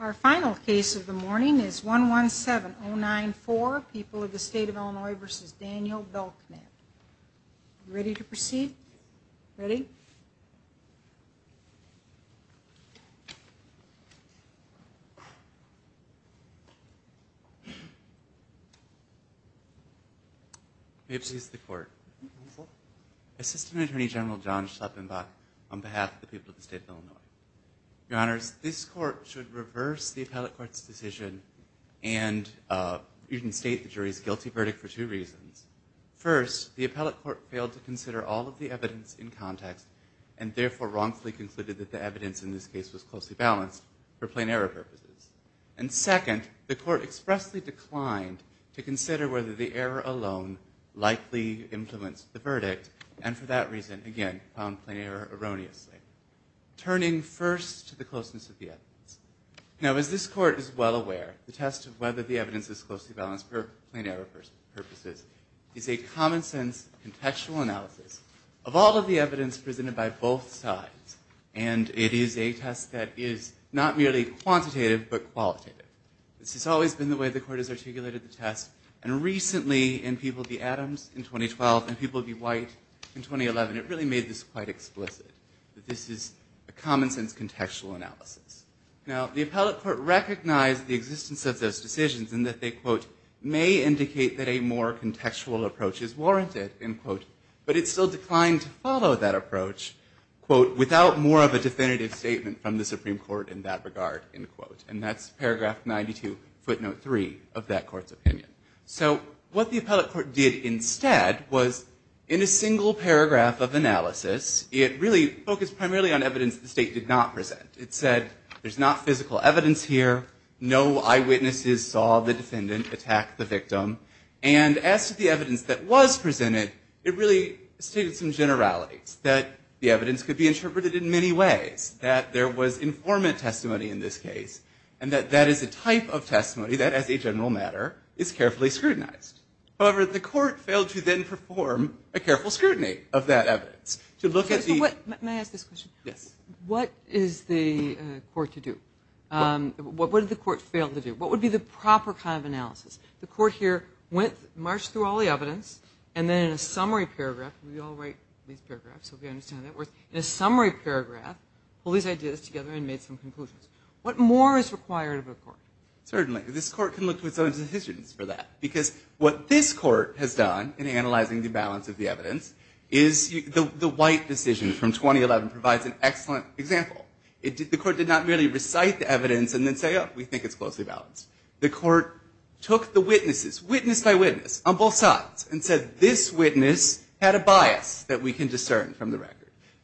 Our final case of the morning is 117094, People of the State of Illinois v. Daniel Belknap. Ready to proceed? Ready? May it please the Court. Assistant Attorney General John Schleppenbach on behalf of the people of the State of Illinois. Your Honors, this Court should reverse the Appellate Court's decision and even state the jury's guilty verdict for two reasons. First, the Appellate Court failed to consider all of the evidence in context, and therefore wrongfully concluded that the evidence in this case was closely balanced for plain error purposes. And second, the Court expressly declined to consider whether the error alone likely influenced the verdict, and for that reason, again, found plain error erroneously. Turning first to the closeness of the evidence. Now, as this Court is well aware, the test of whether the evidence is closely balanced for plain error purposes is a common-sense, contextual analysis of all of the evidence presented by both sides, and it is a test that is not merely quantitative, but qualitative. This has always been the way the Court has articulated the test, and recently in People v. Adams in 2012 and People v. White in 2011, it really made this quite explicit, that this is a common-sense, contextual analysis. Now, the Appellate Court recognized the existence of those decisions and that they, quote, may indicate that a more contextual approach is warranted, end quote, but it still declined to follow that approach, quote, without more of a definitive statement from the Supreme Court in that regard, end quote. And that's paragraph 92, footnote 3 of that Court's opinion. So what the Appellate Court did instead was, in a single paragraph of analysis, it really focused primarily on evidence the State did not present. It said there's not physical evidence here, no eyewitnesses saw the defendant attack the victim, and as to the evidence that was presented, it really stated some generalities, that the evidence could be interpreted in many ways, that there was informant testimony in this case, and that that is a type of testimony that, as a general matter, is carefully scrutinized. However, the Court failed to then perform a careful scrutiny of that evidence to look at the... Can I ask this question? Yes. What is the Court to do? What did the Court fail to do? What would be the proper kind of analysis? The Court here went, marched through all the evidence, and then in a summary paragraph, we all write these paragraphs, so we understand how that works, in a summary paragraph, pulled these ideas together and made some conclusions. What more is required of a Court? Certainly. This Court can look to its own decisions for that, because what this Court has done in analyzing the balance of the evidence is the White decision from 2011 provides an excellent example. The Court did not merely recite the evidence and then say, oh, we think it's closely balanced. The Court took the witnesses, witness by witness, on both sides, and said this witness had a bias that we can discern from the record.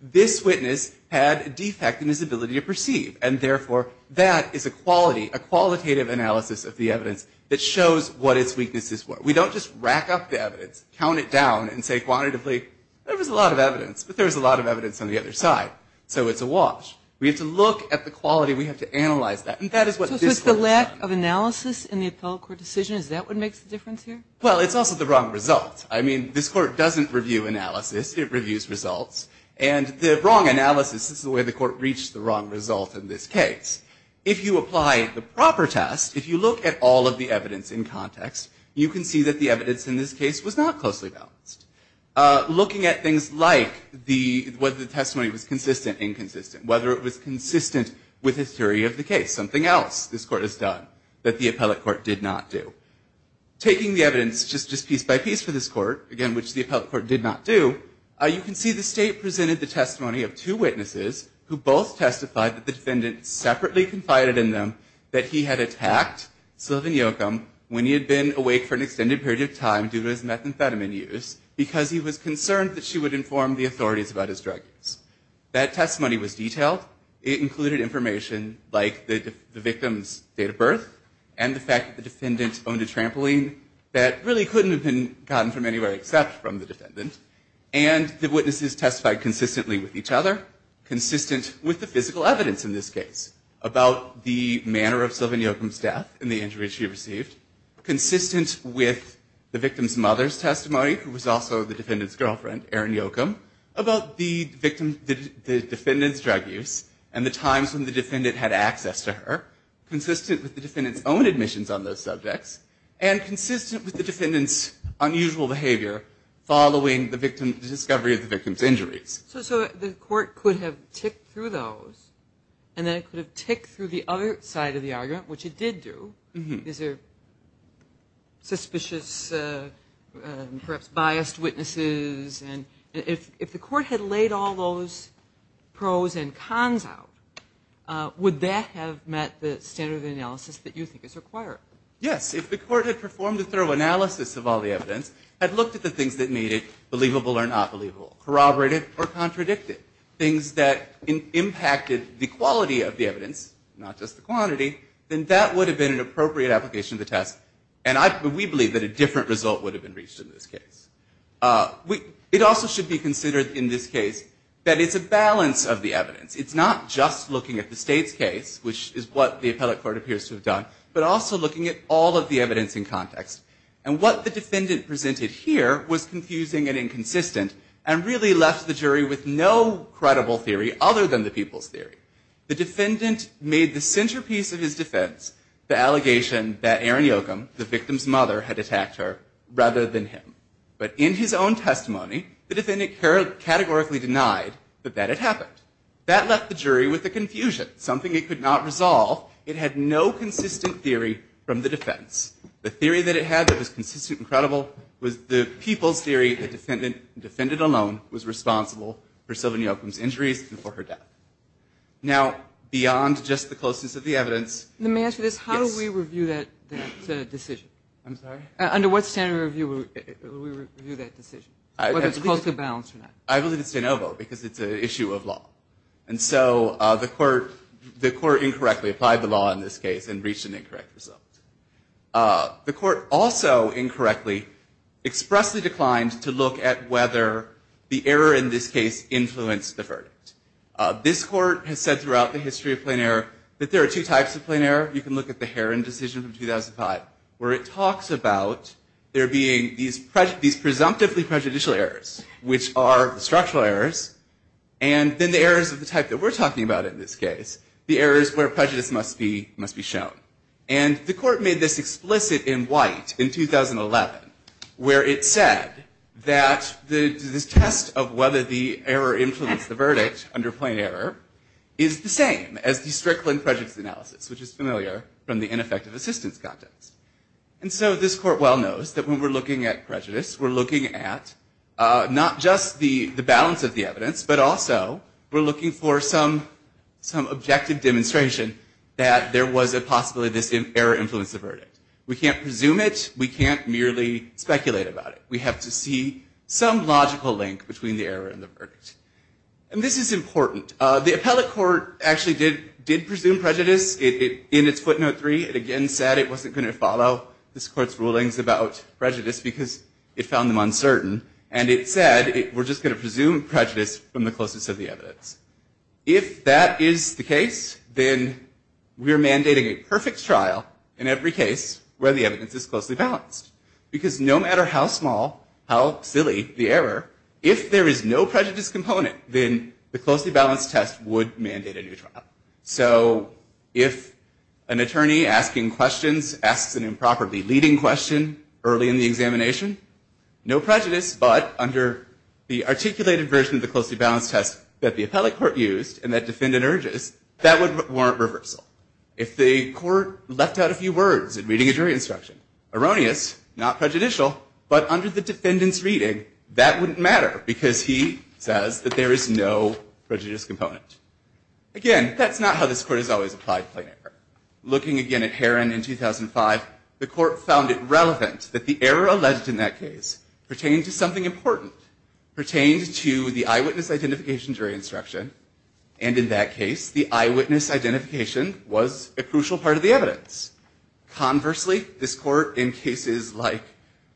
This witness had a defect in his ability to perceive, and therefore, that is a quality, a qualitative analysis of the evidence that shows what its weaknesses were. We don't just rack up the evidence, count it down, and say quantitatively, there was a lot of evidence, but there was a lot of evidence on the other side. So it's a wash. We have to look at the quality. We have to analyze that. And that is what this Court has done. So it's the lack of analysis in the appellate court decision, is that what makes the difference here? Well, it's also the wrong result. I mean, this Court doesn't review analysis. It reviews results. And the wrong analysis is the way the Court reached the wrong result in this case. If you apply the proper test, if you look at all of the evidence in context, you can see that the evidence in this case was not closely balanced. Looking at things like whether the testimony was consistent, inconsistent, whether it was consistent with the theory of the case, something else this Court has done that the appellate court did not do. Taking the evidence just piece by piece for this Court, again, which the appellate court did not do, you can see the State presented the testimony of two witnesses who both testified that the defendant separately confided in them that he had attacked Sylvan Yocum when he had been awake for an extended period of time due to his methamphetamine use because he was concerned that she would inform the authorities about his drug use. That testimony was detailed. It included information like the victim's date of birth and the fact that the defendant owned a trampoline that really couldn't have been gotten from anywhere except from the defendant, and the witnesses testified consistently with each other, consistent with the physical evidence in this case about the manner of Sylvan Yocum's death and the injury she received, consistent with the victim's mother's testimony who was also the defendant's girlfriend, Erin Yocum, about the defendant's drug use and the times when the defendant had access to her, consistent with the defendant's unusual behavior following the discovery of the victim's injuries. So the Court could have ticked through those, and then it could have ticked through the other side of the argument, which it did do. These are suspicious, perhaps biased witnesses. And if the Court had laid all those pros and cons out, would that have met the standard of analysis that you think is required? Yes, if the Court had performed a thorough analysis of all the evidence, had looked at the things that made it believable or not believable, corroborated or contradicted, things that impacted the quality of the evidence, not just the quantity, then that would have been an appropriate application of the test, and we believe that a different result would have been reached in this case. It also should be considered in this case that it's a balance of the evidence. It's not just looking at the state's case, which is what the appellate court appears to have done, but also looking at all of the evidence in context. And what the defendant presented here was confusing and inconsistent, and really left the jury with no credible theory other than the people's theory. The defendant made the centerpiece of his defense the allegation that Erin Yocum, the victim's mother, had attacked her rather than him. But in his own testimony, the defendant categorically denied that that had left the jury with a confusion, something it could not resolve. It had no consistent theory from the defense. The theory that it had that was consistent and credible was the people's theory the defendant alone was responsible for Sylvan Yocum's injuries and for her death. Now, beyond just the closeness of the evidence – Let me ask you this. Yes. How do we review that decision? I'm sorry? Under what standard review would we review that decision, whether it's closely balanced or not? I believe it's de novo because it's an issue of law. And so the court incorrectly applied the law in this case and reached an incorrect result. The court also incorrectly expressly declined to look at whether the error in this case influenced the verdict. This court has said throughout the history of plain error that there are two types of plain error. You can look at the Heron decision from 2005 where it talks about there being these presumptively prejudicial errors, which are the structural errors, and then the errors of the type that we're talking about in this case, the errors where prejudice must be shown. And the court made this explicit in White in 2011 where it said that the test of whether the error influenced the verdict under plain error is the same as the Strickland prejudice analysis, which is familiar from the ineffective assistance context. And so this court well knows that when we're looking at prejudice, we're looking at not just the balance of the evidence, but also we're looking for some objective demonstration that there was a possibility this error influenced the verdict. We can't presume it. We can't merely speculate about it. We have to see some logical link between the error and the verdict. And this is important. The appellate court actually did presume prejudice. In its footnote 3, it again said it wasn't going to follow this court's rulings about prejudice because it found them uncertain. And it said we're just going to presume prejudice from the closest of the evidence. If that is the case, then we're mandating a perfect trial in every case where the evidence is closely balanced. Because no matter how small, how silly the error, if there is no prejudice component, then the closely balanced test would mandate a new trial. So if an attorney asking questions asks an improperly leading question early in the examination, no prejudice, but under the articulated version of the closely balanced test that the appellate court used and that defendant urges, that would warrant reversal. If the court left out a few words in reading a jury instruction, erroneous, not prejudicial, but under the defendant's reading, that wouldn't matter because he says that there is no prejudice component. Again, that's not how this court has always applied plain error. Looking again at Heron in 2005, the court found it relevant that the error alleged in that case pertained to something important, pertained to the eyewitness identification jury instruction. And in that case, the eyewitness identification was a crucial part of the evidence. Conversely, this court in cases like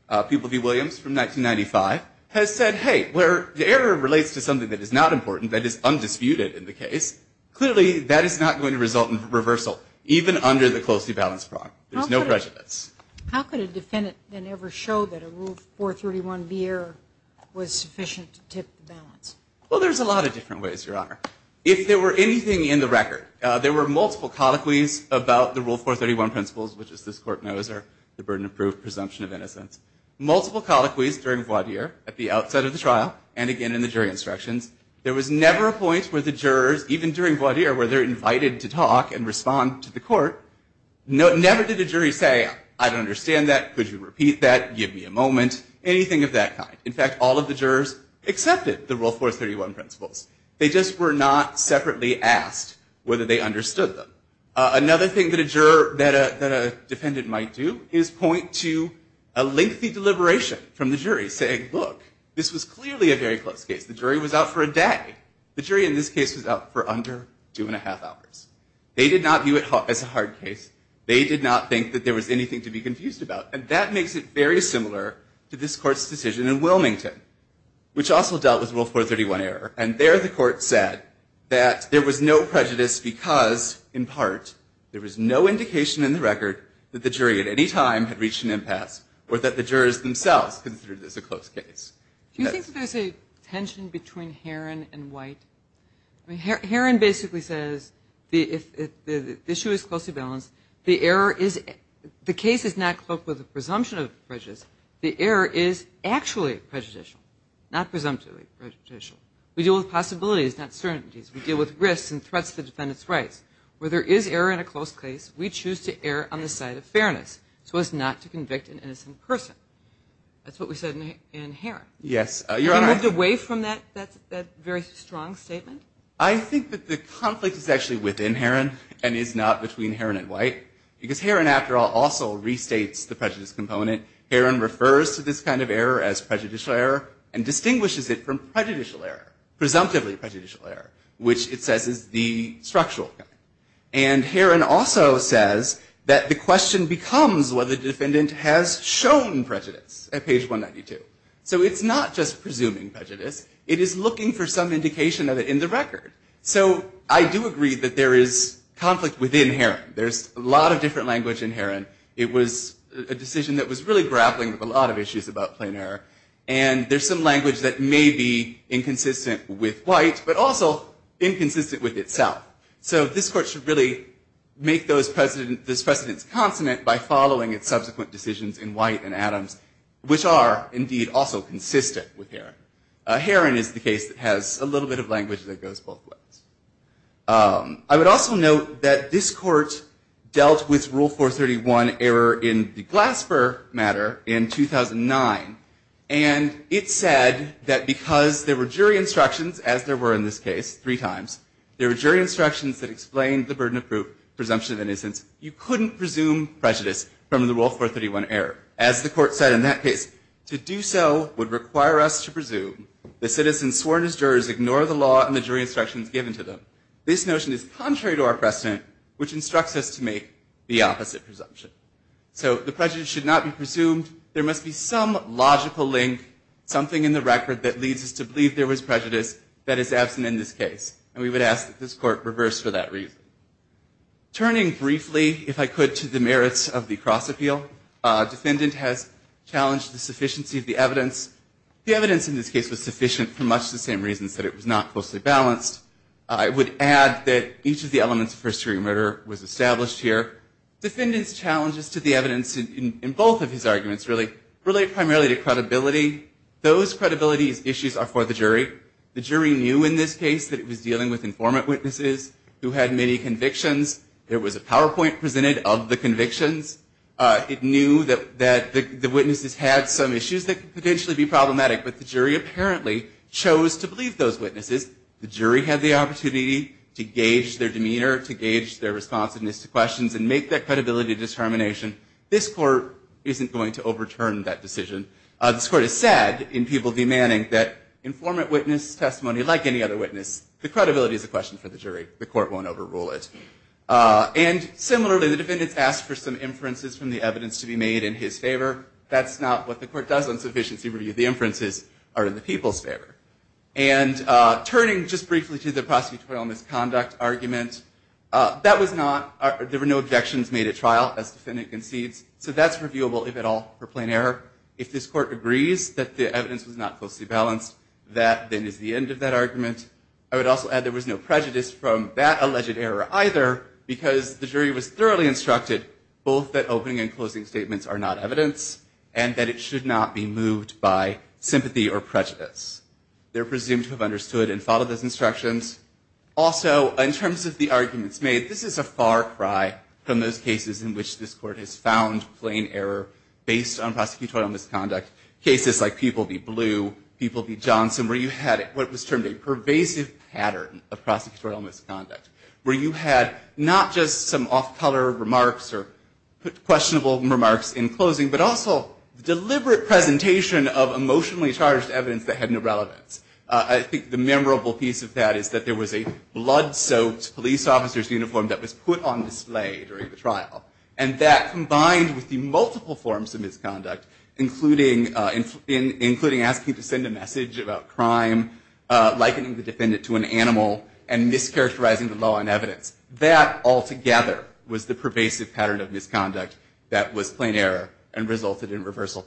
Peeble v. Williams from 1995 has said, hey, where the error relates to something that is not important, that is undisputed in the case, clearly that is not going to result in reversal, even under the closely balanced prong. There's no prejudice. How could a defendant then ever show that a Rule 431B error was sufficient to tip the balance? Well, there's a lot of different ways, Your Honor. If there were anything in the record, there were multiple colloquies about the Rule 431 principles, which as this court knows are the burden of proof, presumption of innocence. Multiple colloquies during voir dire at the outset of the trial and again in the jury instructions. There was never a point where the jurors, even during voir dire where they're invited to talk and respond to the court, never did a jury say, I don't understand that. Could you repeat that? Give me a moment. Anything of that kind. In fact, all of the jurors accepted the Rule 431 principles. They just were not separately asked whether they understood them. Another thing that a defendant might do is point to a lengthy deliberation from the jury saying, look, this was clearly a very close case. The jury was out for a day. The jury in this case was out for under two and a half hours. They did not view it as a hard case. They did not think that there was anything to be confused about. And that makes it very similar to this court's decision in Wilmington, which also dealt with Rule 431 error. And there the court said that there was no prejudice because, in part, there was no indication in the record that the jury at any time had reached an opinion that was considered as a close case. Do you think that there's a tension between Heron and White? Heron basically says the issue is closely balanced. The case is not cloaked with a presumption of prejudice. The error is actually prejudicial, not presumptively prejudicial. We deal with possibilities, not certainties. We deal with risks and threats to the defendant's rights. Where there is error in a close case, we choose to err on the side of fairness so as not to convict an innocent person. That's what we said in Heron. Yes, Your Honor. Have you moved away from that very strong statement? I think that the conflict is actually within Heron and is not between Heron and White because Heron, after all, also restates the prejudice component. Heron refers to this kind of error as prejudicial error and distinguishes it from prejudicial error, presumptively prejudicial error, which it says is the structural error. And Heron also says that the question becomes whether the defendant has shown prejudice at page 192. So it's not just presuming prejudice. It is looking for some indication of it in the record. So I do agree that there is conflict within Heron. There's a lot of different language in Heron. It was a decision that was really grappling with a lot of issues about plain error. And there's some language that may be inconsistent with White, but also inconsistent with itself. So this Court should really make those precedents consonant by following its subsequent decisions in White and Adams, which are indeed also consistent with Heron. Heron is the case that has a little bit of language that goes both ways. I would also note that this Court dealt with Rule 431 error in the Glasper matter in 2009. And it said that because there were jury instructions, as there were in this case three times, presumption of innocence. You couldn't presume prejudice from the Rule 431 error. As the Court said in that case, to do so would require us to presume the citizens sworn as jurors ignore the law and the jury instructions given to them. This notion is contrary to our precedent, which instructs us to make the opposite presumption. So the prejudice should not be presumed. There must be some logical link, something in the record that leads us to believe there was prejudice that is absent in this case. And we would ask that this Court reverse for that reason. Turning briefly, if I could, to the merits of the cross-appeal, defendant has challenged the sufficiency of the evidence. The evidence in this case was sufficient for much the same reasons that it was not closely balanced. I would add that each of the elements of first degree murder was established here. Defendant's challenges to the evidence in both of his arguments really relate primarily to credibility. Those credibility issues are for the jury. The jury knew in this case that it was dealing with informant witnesses who had many convictions. There was a PowerPoint presented of the convictions. It knew that the witnesses had some issues that could potentially be problematic, but the jury apparently chose to believe those witnesses. The jury had the opportunity to gauge their demeanor, to gauge their responsiveness to questions and make that credibility determination. This Court isn't going to overturn that decision. This Court has said in People v. Manning that informant witness testimony, like any other witness, the credibility is a question for the jury. The Court won't overrule it. And similarly, the defendants asked for some inferences from the evidence to be made in his favor. That's not what the Court does on sufficiency review. The inferences are in the people's favor. And turning just briefly to the prosecutorial misconduct argument, that was not, there were no objections made at trial, as defendant concedes. So that's reviewable, if at all, for plain error. If this Court agrees that the evidence was not closely balanced, that then is the end of that argument. I would also add there was no prejudice from that alleged error either, because the jury was thoroughly instructed both that opening and closing statements are not evidence, and that it should not be moved by sympathy or prejudice. They're presumed to have understood and followed those instructions. Also, in terms of the arguments made, this is a far cry from those cases in which this Court has found plain error based on prosecutorial misconduct. Cases like People v. Blue, People v. Johnson, where you had what was termed a pervasive pattern of prosecutorial misconduct, where you had not just some off-color remarks or questionable remarks in closing, but also deliberate presentation of emotionally charged evidence that had no relevance. I think the memorable piece of that is that there was a blood-soaked police officer's uniform that was put on display during the trial, and that combined with the multiple forms of misconduct, including asking to send a message about crime, likening the defendant to an animal, and mischaracterizing the law in evidence. That altogether was the pervasive pattern of misconduct that was plain error and resulted in reversal.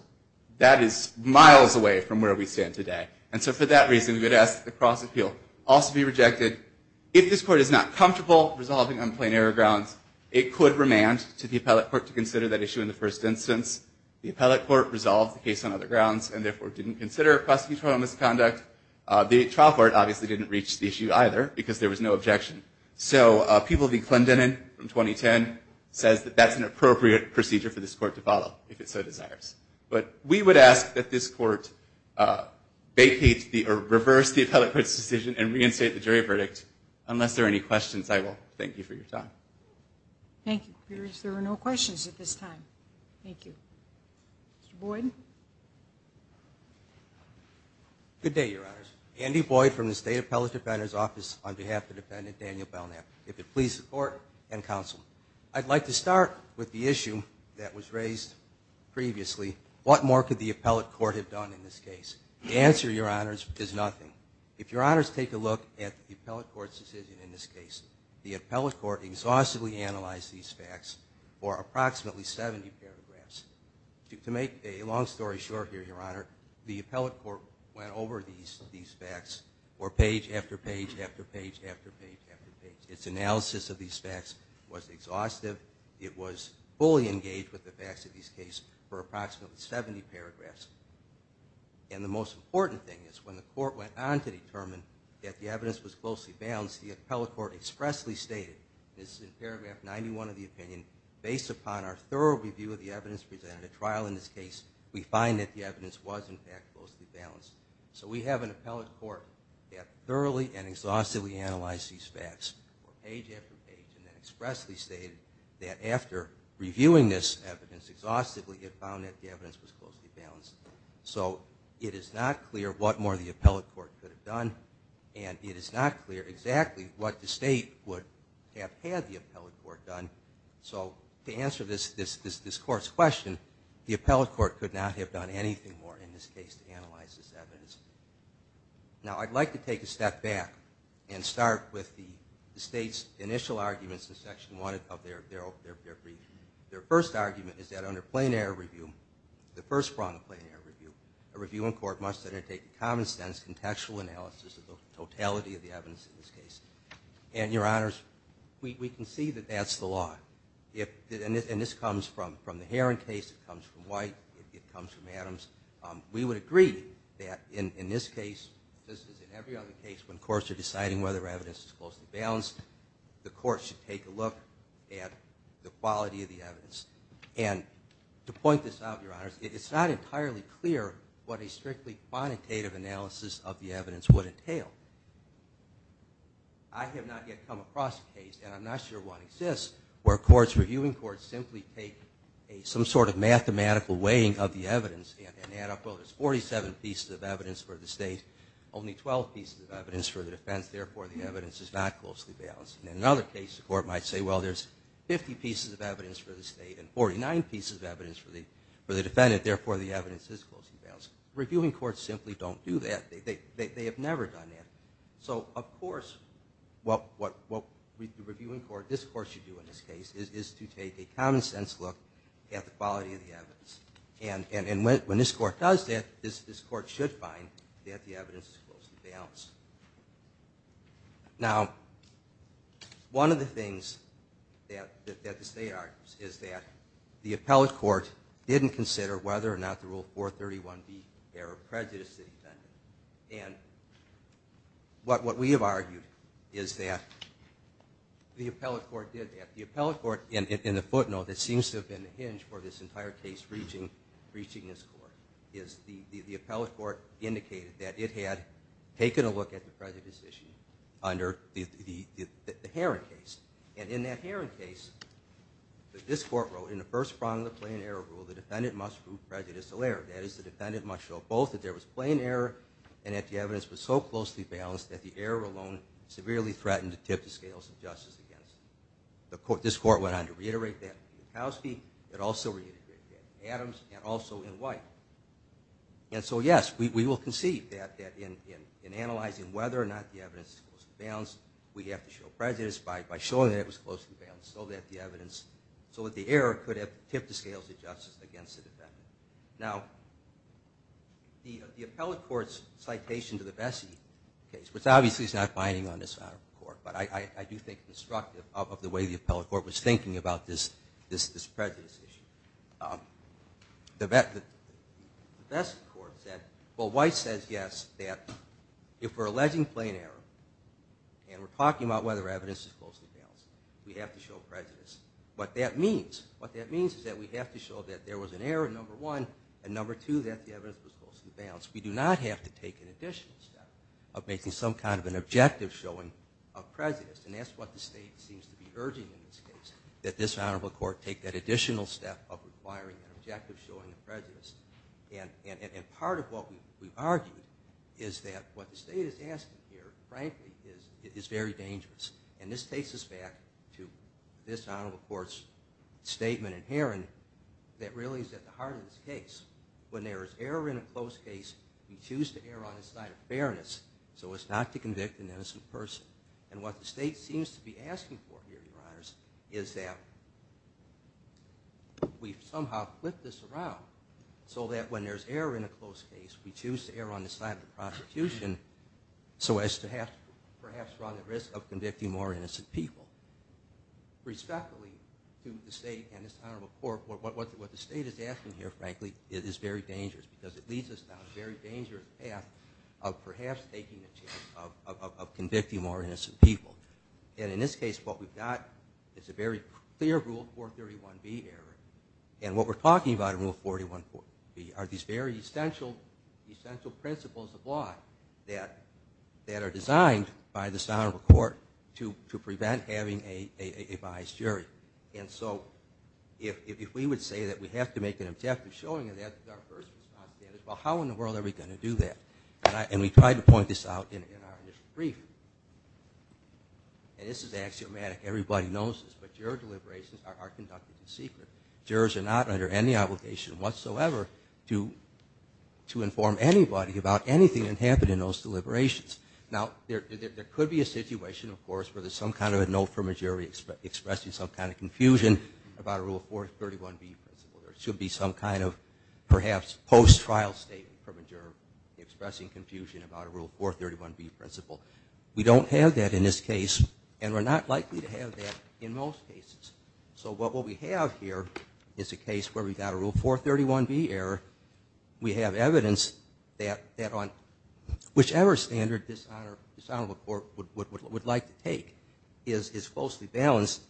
That is miles away from where we stand today. And so for that reason, we would ask that the cross-appeal also be rejected. If this Court is not comfortable resolving on plain error grounds, it could remand to the appellate court to consider that issue in the first instance. The appellate court resolved the case on other grounds and, therefore, didn't consider prosecutorial misconduct. The trial court obviously didn't reach the issue either, because there was no objection. So People v. Clendenin from 2010 says that that's an appropriate procedure for this Court to follow, if it so desires. But we would ask that this Court vacate or reverse the appellate court's decision and reinstate the jury verdict. Unless there are any questions, I will thank you for your time. Thank you. There are no questions at this time. Thank you. Mr. Boyd. Good day, Your Honors. Andy Boyd from the State Appellate Defender's Office on behalf of Defendant Daniel Belknap. If it please the Court and Counsel, I'd like to start with the issue that was raised previously, what more could the appellate court have done in this case? The answer, Your Honors, is nothing. If Your Honors take a look at the appellate court's decision in this case, the appellate court exhaustively analyzed these facts for approximately 70 paragraphs. To make a long story short here, Your Honor, the appellate court went over these facts page after page after page after page after page. Its analysis of these facts was exhaustive. It was fully engaged with the facts of this case for approximately 70 paragraphs. And the most important thing is when the court went on to determine that the evidence was closely balanced, the appellate court expressly stated, and this is in paragraph 91 of the opinion, based upon our thorough review of the evidence presented at trial in this case, we find that the evidence was, in fact, closely balanced. So we have an appellate court that thoroughly and exhaustively analyzed these facts page after page and then expressly stated that after reviewing this evidence exhaustively, it found that the evidence was closely balanced. So it is not clear what more the appellate court could have done, and it is not clear exactly what the state would have had the appellate court done. So to answer this court's question, the appellate court could not have done anything more in this case to analyze this evidence. Now, I'd like to take a step back and start with the state's initial arguments in Section 1 of their brief. Their first argument is that under plain error review, the first prong of plain error review, a review in court must undertake a common sense contextual analysis of the totality of the evidence in this case. And, Your Honors, we can see that that's the law. And this comes from the Heron case, it comes from White, it comes from Adams. We would agree that in this case, just as in every other case, when courts are deciding whether evidence is closely balanced, the court should take a look at the quality of the evidence. And to point this out, Your Honors, it's not entirely clear what a strictly quantitative analysis of the evidence would entail. I have not yet come across a case, and I'm not sure one exists, where courts, reviewing courts, simply take some sort of mathematical weighing of the evidence and add up, well, there's 47 pieces of evidence for the state, only 12 pieces of evidence for the defense, therefore the evidence is not closely balanced. In another case, the court might say, well, there's 50 pieces of evidence for the state and 49 pieces of evidence for the defendant, therefore the evidence is closely balanced. Reviewing courts simply don't do that. They have never done that. So, of course, what the reviewing court, this court should do in this case, is to take a common sense look at the quality of the evidence. And when this court does that, this court should find that the evidence is closely balanced. Now, one of the things that the state argues is that the appellate court didn't consider whether or not the Rule 431B error of prejudice the defendant. And what we have argued is that the appellate court did that. The appellate court, and a footnote that seems to have been the hinge for this entire case reaching this court, is the appellate court indicated that it had taken a look at the prejudice issue under the Heron case. And in that Heron case, this court wrote, in the first prong of the plain error rule, the defendant must prove prejudicial error. That is, the defendant must show both that there was plain error and that the evidence was so closely balanced that the error alone severely threatened to tip the scales of justice against them. This court went on to reiterate that in Kowsky. It also reiterated that in Adams and also in White. And so, yes, we will concede that in analyzing whether or not the evidence is closely balanced, we have to show prejudice by showing that it was closely balanced so that the evidence, so that the error could have tipped the scales of justice against the defendant. Now, the appellate court's citation to the Bessie case, which obviously is not binding on this matter of the court, but I do think it's constructive of the way the appellate court was thinking about this prejudice issue. The Bessie court said, well, White says, yes, that if we're alleging plain error and we're talking about whether evidence is closely balanced, we have to show prejudice. What that means, what that means is that we have to show that there was an error, number one, and number two, that the evidence was closely balanced. We do not have to take an additional step of making some kind of an objective showing of prejudice. And that's what the state seems to be urging in this case, that this honorable court take that additional step of requiring an objective showing of prejudice. And part of what we've argued is that what the state is asking here, frankly, is very dangerous. And this takes us back to this honorable court's statement in Heron that really is at the heart of this case. When there is error in a closed case, we choose to err on the side of fairness so as not to convict an innocent person. And what the state seems to be asking for here, Your Honors, is that we somehow flip this around so that when there's error in a closed case, we choose to err on the side of the prosecution so as to perhaps run the risk of convicting more innocent people. Respectfully to the state and this honorable court, what the state is asking here, frankly, is very dangerous because it leads us down a very dangerous path of perhaps taking the chance of convicting more innocent people. And in this case, what we've got is a very clear Rule 431B error. And what we're talking about in Rule 431B are these very essential principles of law that are designed by this honorable court to prevent having a biased jury. And so if we would say that we have to make an objective showing of that well, how in the world are we going to do that? And we tried to point this out in our initial briefing. And this is axiomatic. Everybody knows this, but juror deliberations are conducted in secret. Jurors are not under any obligation whatsoever to inform anybody about anything that happened in those deliberations. Now, there could be a situation, of course, where there's some kind of a note from a jury expressing some kind of confusion about a Rule 431B principle. There should be some kind of, perhaps, post-trial statement from a juror expressing confusion about a Rule 431B principle. We don't have that in this case, and we're not likely to have that in most cases. So what we have here is a case where we've got a Rule 431B error. We have evidence that on whichever standard this honorable court would like to take is closely balanced.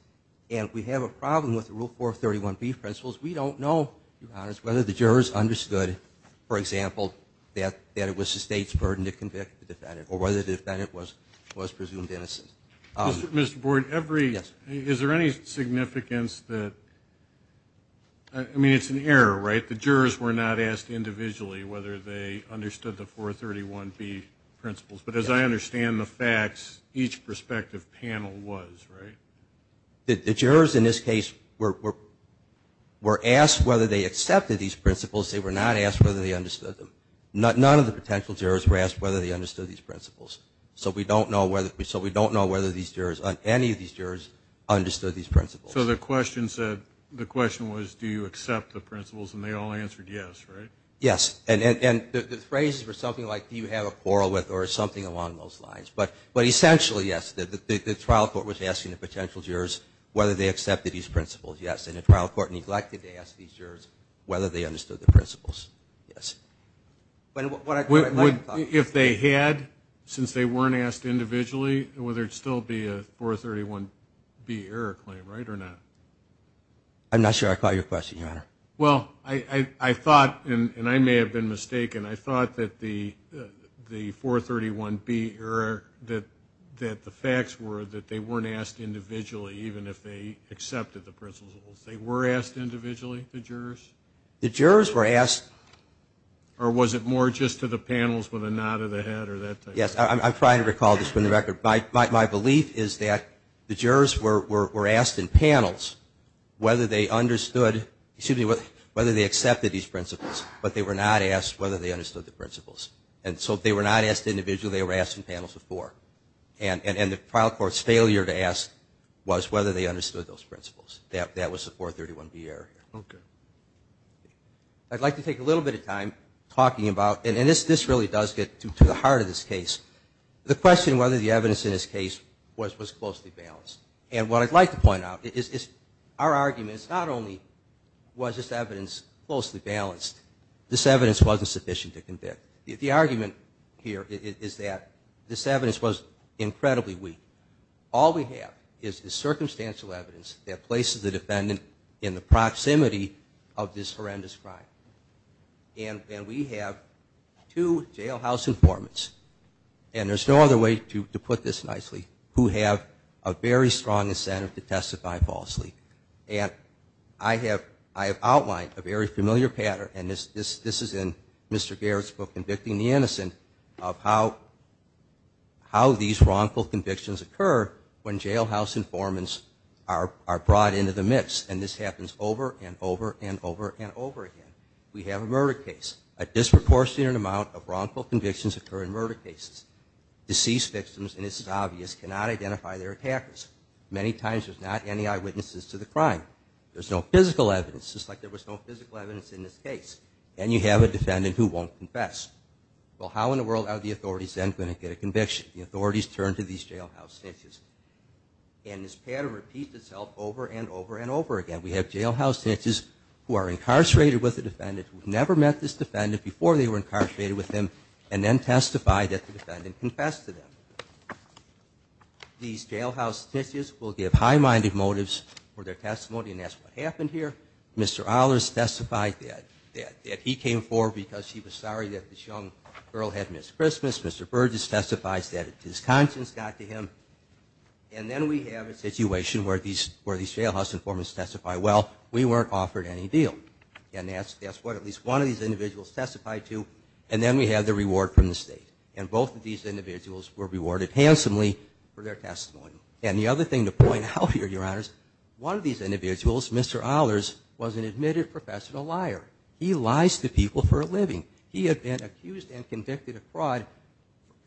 And we have a problem with the Rule 431B principles. We don't know, Your Honors, whether the jurors understood, for example, that it was the state's burden to convict the defendant or whether the defendant was presumed innocent. Mr. Board, is there any significance that – I mean, it's an error, right? The jurors were not asked individually whether they understood the 431B principles. But as I understand the facts, each prospective panel was, right? The jurors in this case were asked whether they accepted these principles. They were not asked whether they understood them. None of the potential jurors were asked whether they understood these principles. So we don't know whether any of these jurors understood these principles. So the question was, do you accept the principles? And they all answered yes, right? Yes. And the phrases were something like, do you have a quarrel with or something along those lines. But essentially, yes, the trial court was asking the potential jurors whether they accepted these principles, yes. And the trial court neglected to ask these jurors whether they understood the principles. Yes. If they had, since they weren't asked individually, would there still be a 431B error claim, right, or not? I'm not sure I caught your question, Your Honor. Well, I thought, and I may have been mistaken, I thought that the 431B error, that the facts were that they weren't asked individually, even if they accepted the principles. They were asked individually, the jurors? The jurors were asked. Or was it more just to the panels with a nod of the head or that type of thing? Yes, I'm trying to recall, just for the record. My belief is that the jurors were asked in panels whether they understood, excuse me, whether they accepted these principles, but they were not asked whether they understood the principles. And so if they were not asked individually, they were asked in panels before. And the trial court's failure to ask was whether they understood those principles. That was the 431B error. Okay. I'd like to take a little bit of time talking about, and this really does get to the heart of this case, the question whether the evidence in this case was closely balanced. And what I'd like to point out is our argument is not only was this evidence closely balanced, this evidence wasn't sufficient to convict. The argument here is that this evidence was incredibly weak. All we have is the circumstantial evidence that places the defendant in the proximity of this horrendous crime. And we have two jailhouse informants, and there's no other way to put this nicely, who have a very strong incentive to testify falsely. And I have outlined a very familiar pattern, and this is in Mr. Garrett's book, Convicting the Innocent, of how these wrongful convictions occur when jailhouse informants are brought into the mix. And this happens over and over and over and over again. We have a murder case. A disproportionate amount of wrongful convictions occur in murder cases. Deceased victims, and this is obvious, cannot identify their attackers. Many times there's not any eyewitnesses to the crime. There's no physical evidence, just like there was no physical evidence in this case. And you have a defendant who won't confess. Well, how in the world are the authorities then going to get a conviction? The authorities turn to these jailhouse snitches. And this pattern repeats itself over and over and over again. We have jailhouse snitches who are incarcerated with the defendant, who have never met this defendant before they were incarcerated with them, and then testify that the defendant confessed to them. These jailhouse snitches will give high-minded motives for their testimony, and that's what happened here. Mr. Ahlers testified that he came forward because he was sorry that this young girl had missed Christmas. Mr. Burgess testifies that his conscience got to him. And then we have a situation where these jailhouse informants testify, well, we weren't offered any deal. And that's what at least one of these individuals testified to. And then we have the reward from the state. And both of these individuals were rewarded handsomely for their testimony. And the other thing to point out here, Your Honors, one of these individuals, Mr. Ahlers, was an admitted professional liar. He lies to people for a living. He had been accused and convicted of fraud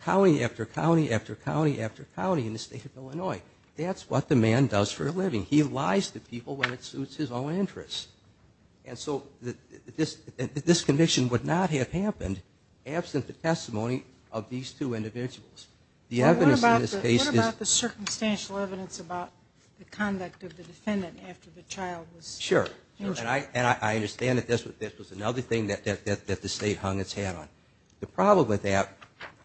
county after county after county after county in the state of Illinois. That's what the man does for a living. He lies to people when it suits his own interests. And so this conviction would not have happened absent the testimony of these two individuals. What about the circumstantial evidence about the conduct of the defendant after the child was injured? Sure. And I understand that this was another thing that the state hung its hat on. The problem with that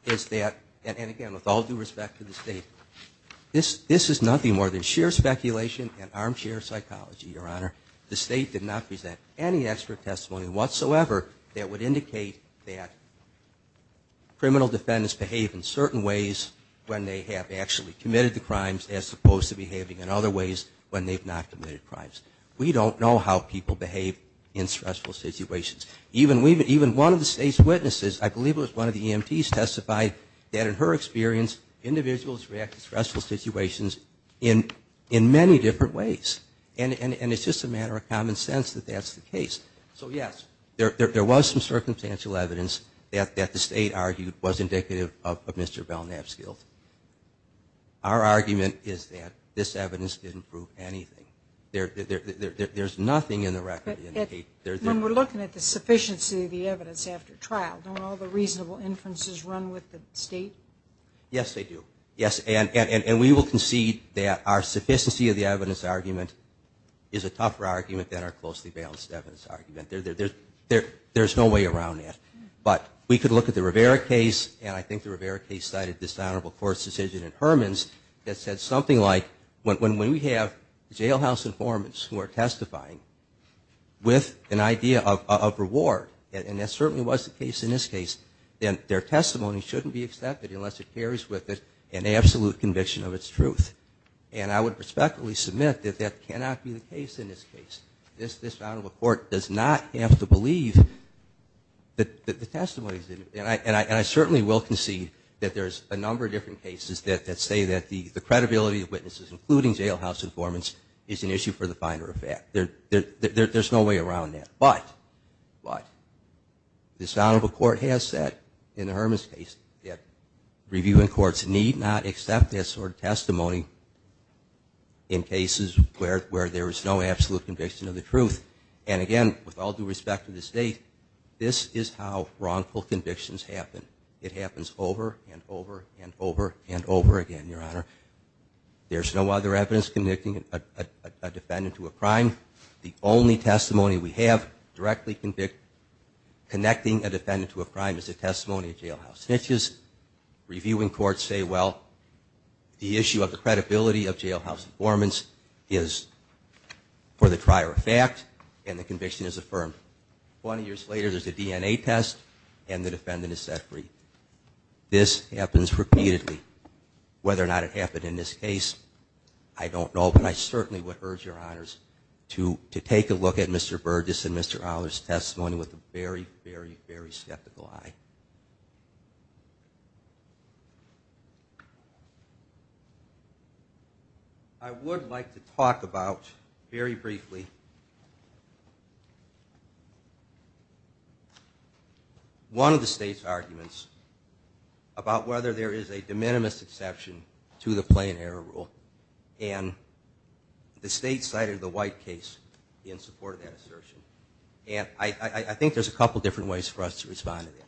is that, and, again, with all due respect to the state, this is nothing more than sheer speculation and armchair psychology, Your Honor. The state did not present any expert testimony whatsoever that would indicate that criminal defendants behave in certain ways when they have actually committed the crimes as opposed to behaving in other ways when they've not committed crimes. We don't know how people behave in stressful situations. Even one of the state's witnesses, I believe it was one of the EMTs, testified that, in her experience, individuals reacted to stressful situations in many different ways. And it's just a matter of common sense that that's the case. So, yes, there was some circumstantial evidence that the state argued was indicative of Mr. Belknap's guilt. Our argument is that this evidence didn't prove anything. There's nothing in the record that indicates. When we're looking at the sufficiency of the evidence after trial, don't all the reasonable inferences run with the state? Yes, they do. Yes, and we will concede that our sufficiency of the evidence argument is a tougher argument than our closely balanced evidence argument. There's no way around that. But we could look at the Rivera case, and I think the Rivera case cited this honorable court's decision in Herman's that said something like, when we have jailhouse informants who are testifying with an idea of reward, and that certainly was the case in this case, then their testimony shouldn't be accepted unless it carries with it an absolute conviction of its truth. And I would respectfully submit that that cannot be the case in this case. This honorable court does not have to believe that the testimony is, and I certainly will concede that there's a number of different cases that say that the credibility of witnesses, including jailhouse informants, is an issue for the finer of fact. There's no way around that. But this honorable court has said in the Herman's case that reviewing courts need not accept that sort of testimony in cases where there is no absolute conviction of the truth. And again, with all due respect to the state, this is how wrongful convictions happen. It happens over and over and over and over again, Your Honor. There's no other evidence convicting a defendant to a crime. The only testimony we have directly connecting a defendant to a crime is the testimony of jailhouse snitches. Reviewing courts say, well, the issue of the credibility of jailhouse informants is for the prior of fact, and the conviction is affirmed. Twenty years later, there's a DNA test, and the defendant is set free. This happens repeatedly. Whether or not it happened in this case, I don't know. But I certainly would urge Your Honors to take a look at Mr. Burgess and Mr. Owler's testimony with a very, very, very skeptical eye. I would like to talk about, very briefly, one of the state's arguments about whether there is a de minimis exception to the plain error rule. And the state cited the White case in support of that assertion. And I think there's a couple different ways for us to respond to that.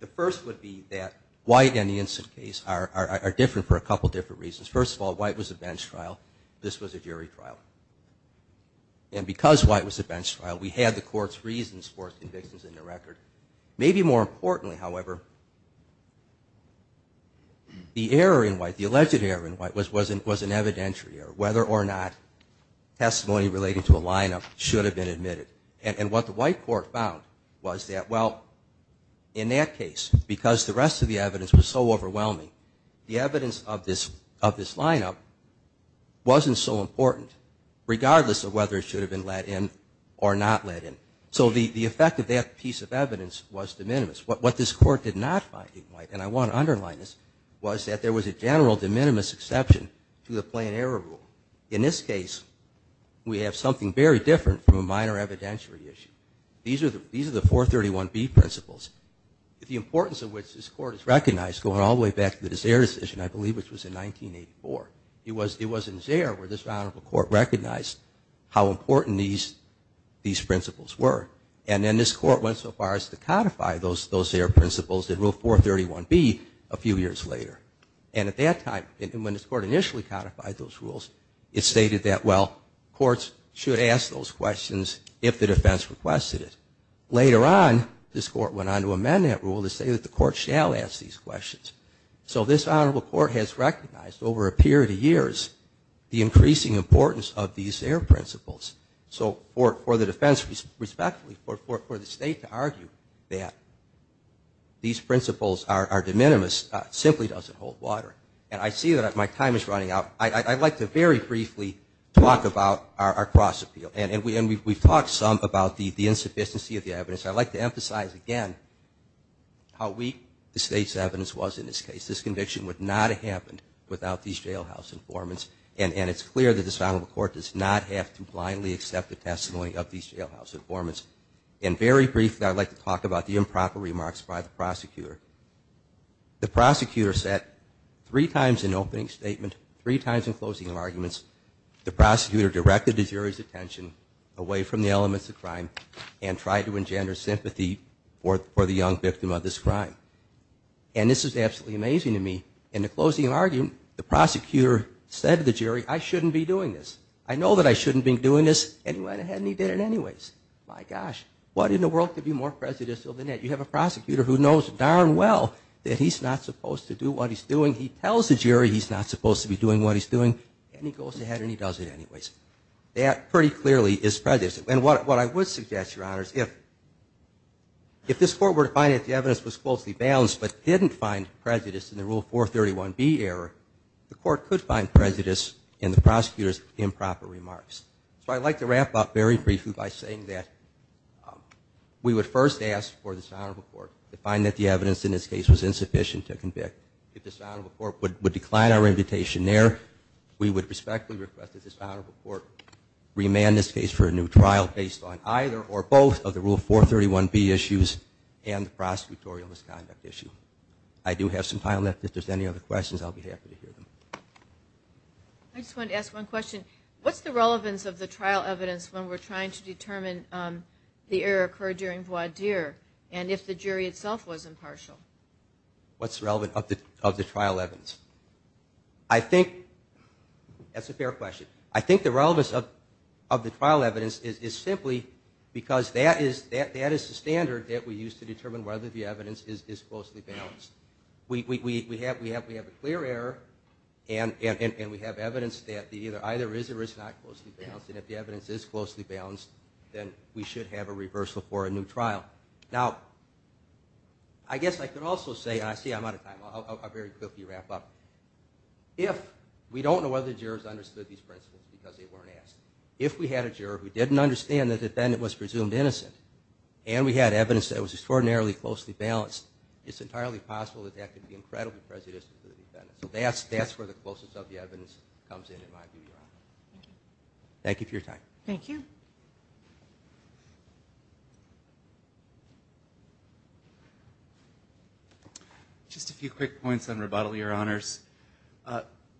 The first would be that White and the Instant Case are different for a couple different reasons. First of all, White was a bench trial. This was a jury trial. And because White was a bench trial, we had the court's reasons for its convictions in the record. Maybe more importantly, however, the error in White, the alleged error in White, was an evidentiary error. Whether or not testimony relating to a lineup should have been admitted. And what the White court found was that, well, in that case, because the rest of the evidence was so overwhelming, the evidence of this lineup wasn't so important, regardless of whether it should have been let in or not let in. So the effect of that piece of evidence was de minimis. What this court did not find in White, and I want to underline this, was that there was a general de minimis exception to the plain error rule. In this case, we have something very different from a minor evidentiary issue. These are the 431B principles. The importance of which this court has recognized going all the way back to the Zaire decision, I believe, which was in 1984. It was in Zaire where this Honorable Court recognized how important these principles were. And then this court went so far as to codify those Zaire principles in Rule 431B a few years later. And at that time, when this court initially codified those rules, it stated that, well, courts should ask those questions if the defense requested it. Later on, this court went on to amend that rule to say that the court shall ask these questions. So this Honorable Court has recognized over a period of years the increasing importance of these Zaire principles. So for the defense, respectfully, for the state to argue that these principles are de minimis simply doesn't hold water. And I see that my time is running out. I'd like to very briefly talk about our cross-appeal. And we've talked some about the insufficiency of the evidence. I'd like to emphasize again how weak the state's evidence was in this case. This conviction would not have happened without these jailhouse informants. And it's clear that this Honorable Court does not have to blindly accept the testimony of these jailhouse informants. And very briefly, I'd like to talk about the improper remarks by the prosecutor. The prosecutor said three times in opening statement, three times in closing arguments, the prosecutor directed the jury's attention away from the elements of crime and tried to engender sympathy for the young victim of this crime. And this is absolutely amazing to me. In the closing argument, the prosecutor said to the jury, I shouldn't be doing this. I know that I shouldn't be doing this. And he went ahead and he did it anyways. My gosh, what in the world could be more prejudicial than that? You have a prosecutor who knows darn well that he's not supposed to do what he's doing. He tells the jury he's not supposed to be doing what he's doing, and he goes ahead and he does it anyways. That pretty clearly is prejudicial. And what I would suggest, Your Honors, if this Court were to find that the evidence was closely balanced but didn't find prejudice in the Rule 431B error, the Court could find prejudice in the prosecutor's improper remarks. So I'd like to wrap up very briefly by saying that we would first ask for this Honorable Court to find that the evidence in this case was insufficient to convict. If this Honorable Court would decline our invitation there, we would respectfully request that this Honorable Court remand this case for a new trial based on either or both of the Rule 431B issues and the prosecutorial misconduct issue. I do have some time left. If there's any other questions, I'll be happy to hear them. I just wanted to ask one question. What's the relevance of the trial evidence when we're trying to determine the error occurred during voir dire? And if the jury itself was impartial? What's the relevance of the trial evidence? I think that's a fair question. I think the relevance of the trial evidence is simply because that is the standard that we use to determine whether the evidence is closely balanced. We have a clear error, and we have evidence that either is or is not closely balanced. And if the evidence is closely balanced, then we should have a reversal for a new trial. Now, I guess I could also say, and I see I'm out of time, I'll very quickly wrap up. If we don't know whether the jurors understood these principles because they weren't asked, if we had a juror who didn't understand the defendant was presumed innocent and we had evidence that was extraordinarily closely balanced, it's entirely possible that that could be incredibly prejudicial to the defendant. So that's where the closeness of the evidence comes in, in my view. Thank you for your time. Thank you. Just a few quick points on rebuttal, Your Honors.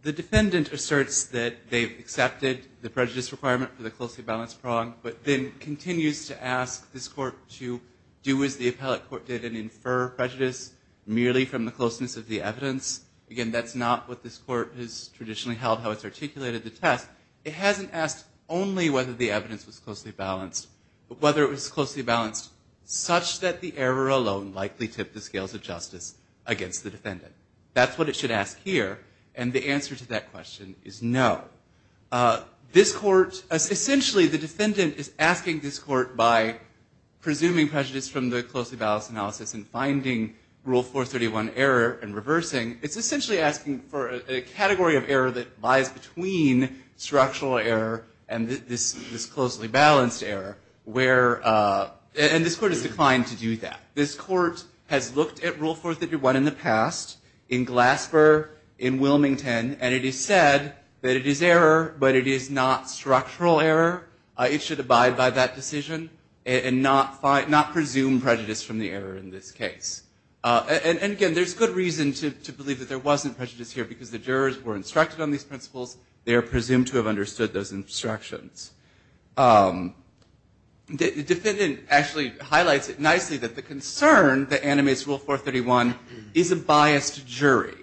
The defendant asserts that they've accepted the prejudice requirement for the closely balanced prong, but then continues to ask this court to do as the appellate court did and infer prejudice merely from the closeness of the evidence. Again, that's not what this court has traditionally held, how it's articulated the test. It hasn't asked only whether the evidence was closely balanced, but whether it was closely balanced such that the error alone likely tipped the scales of justice against the defendant. That's what it should ask here, and the answer to that question is no. This court, essentially the defendant is asking this court by presuming prejudice from the closely balanced analysis and finding Rule 431 error and reversing, it's essentially asking for a category of error that lies between structural error and this closely balanced error. And this court has declined to do that. This court has looked at Rule 431 in the past, in Glasper, in Wilmington, and it is said that it is error, but it is not structural error. It should abide by that decision and not presume prejudice from the error in this case. And again, there's good reason to believe that there wasn't prejudice here, because the jurors were instructed on these principles. They are presumed to have understood those instructions. The defendant actually highlights it nicely that the concern that animates Rule 431 is a biased jury.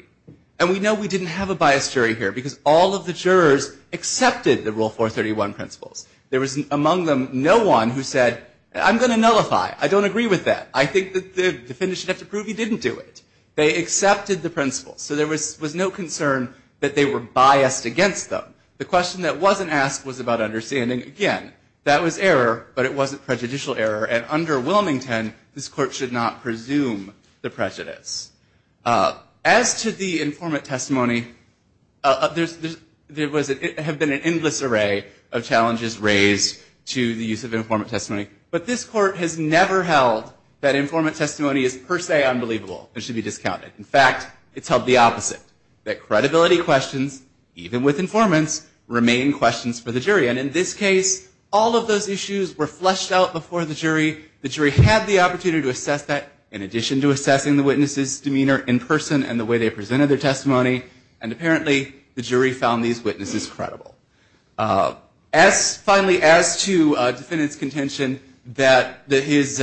And we know we didn't have a biased jury here, because all of the jurors accepted the Rule 431 principles. There was, among them, no one who said, I'm going to nullify. I don't agree with that. I think that the defendant should have to prove he didn't do it. They accepted the principles. So there was no concern that they were biased against them. The question that wasn't asked was about understanding, again, that was error, but it wasn't prejudicial error, and under Wilmington, this court should not presume the prejudice. As to the informant testimony, there have been an endless array of challenges raised to the use of informant testimony. But this court has never held that informant testimony is per se unbelievable and should be discounted. In fact, it's held the opposite, that credibility questions, even with informants, remain questions for the jury. And in this case, all of those issues were fleshed out before the jury. The jury had the opportunity to assess that, in addition to assessing the witness's demeanor in person and the way they presented their testimony. And apparently, the jury found these witnesses credible. As finally, as to defendant's contention, that his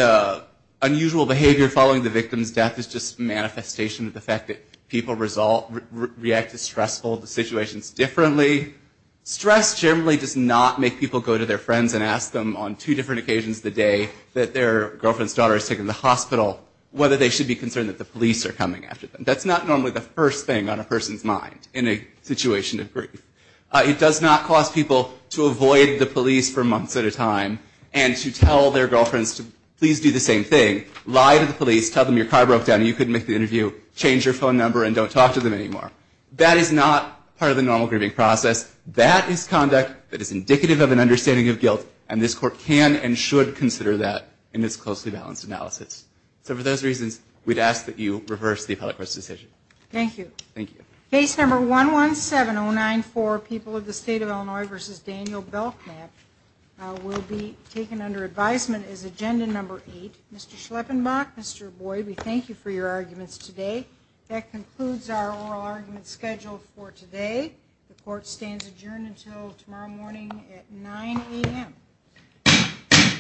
unusual behavior following the victim's death is just manifestation of the fact that people react to stressful situations differently. Stress generally does not make people go to their friends and ask them on two different occasions of the day that their girlfriend's daughter is taken to the hospital whether they should be concerned that the police are coming after them. That's not normally the first thing on a person's mind in a situation of grief. It does not cause people to avoid the police for months at a time and to tell their girlfriends to please do the same thing, lie to the police, tell them your car broke down and you couldn't make the interview, change your phone number, and don't talk to them anymore. That is not part of the normal grieving process. That is conduct that is indicative of an understanding of guilt, and this court can and should consider that in its closely balanced analysis. So for those reasons, we'd ask that you reverse the appellate court's decision. Thank you. Thank you. Case number 117094, People of the State of Illinois v. Daniel Belknap, will be taken under advisement as agenda number eight. Mr. Schleppenbach, Mr. Boyd, we thank you for your arguments today. That concludes our oral argument schedule for today. The court stands adjourned until tomorrow morning at 9 a.m.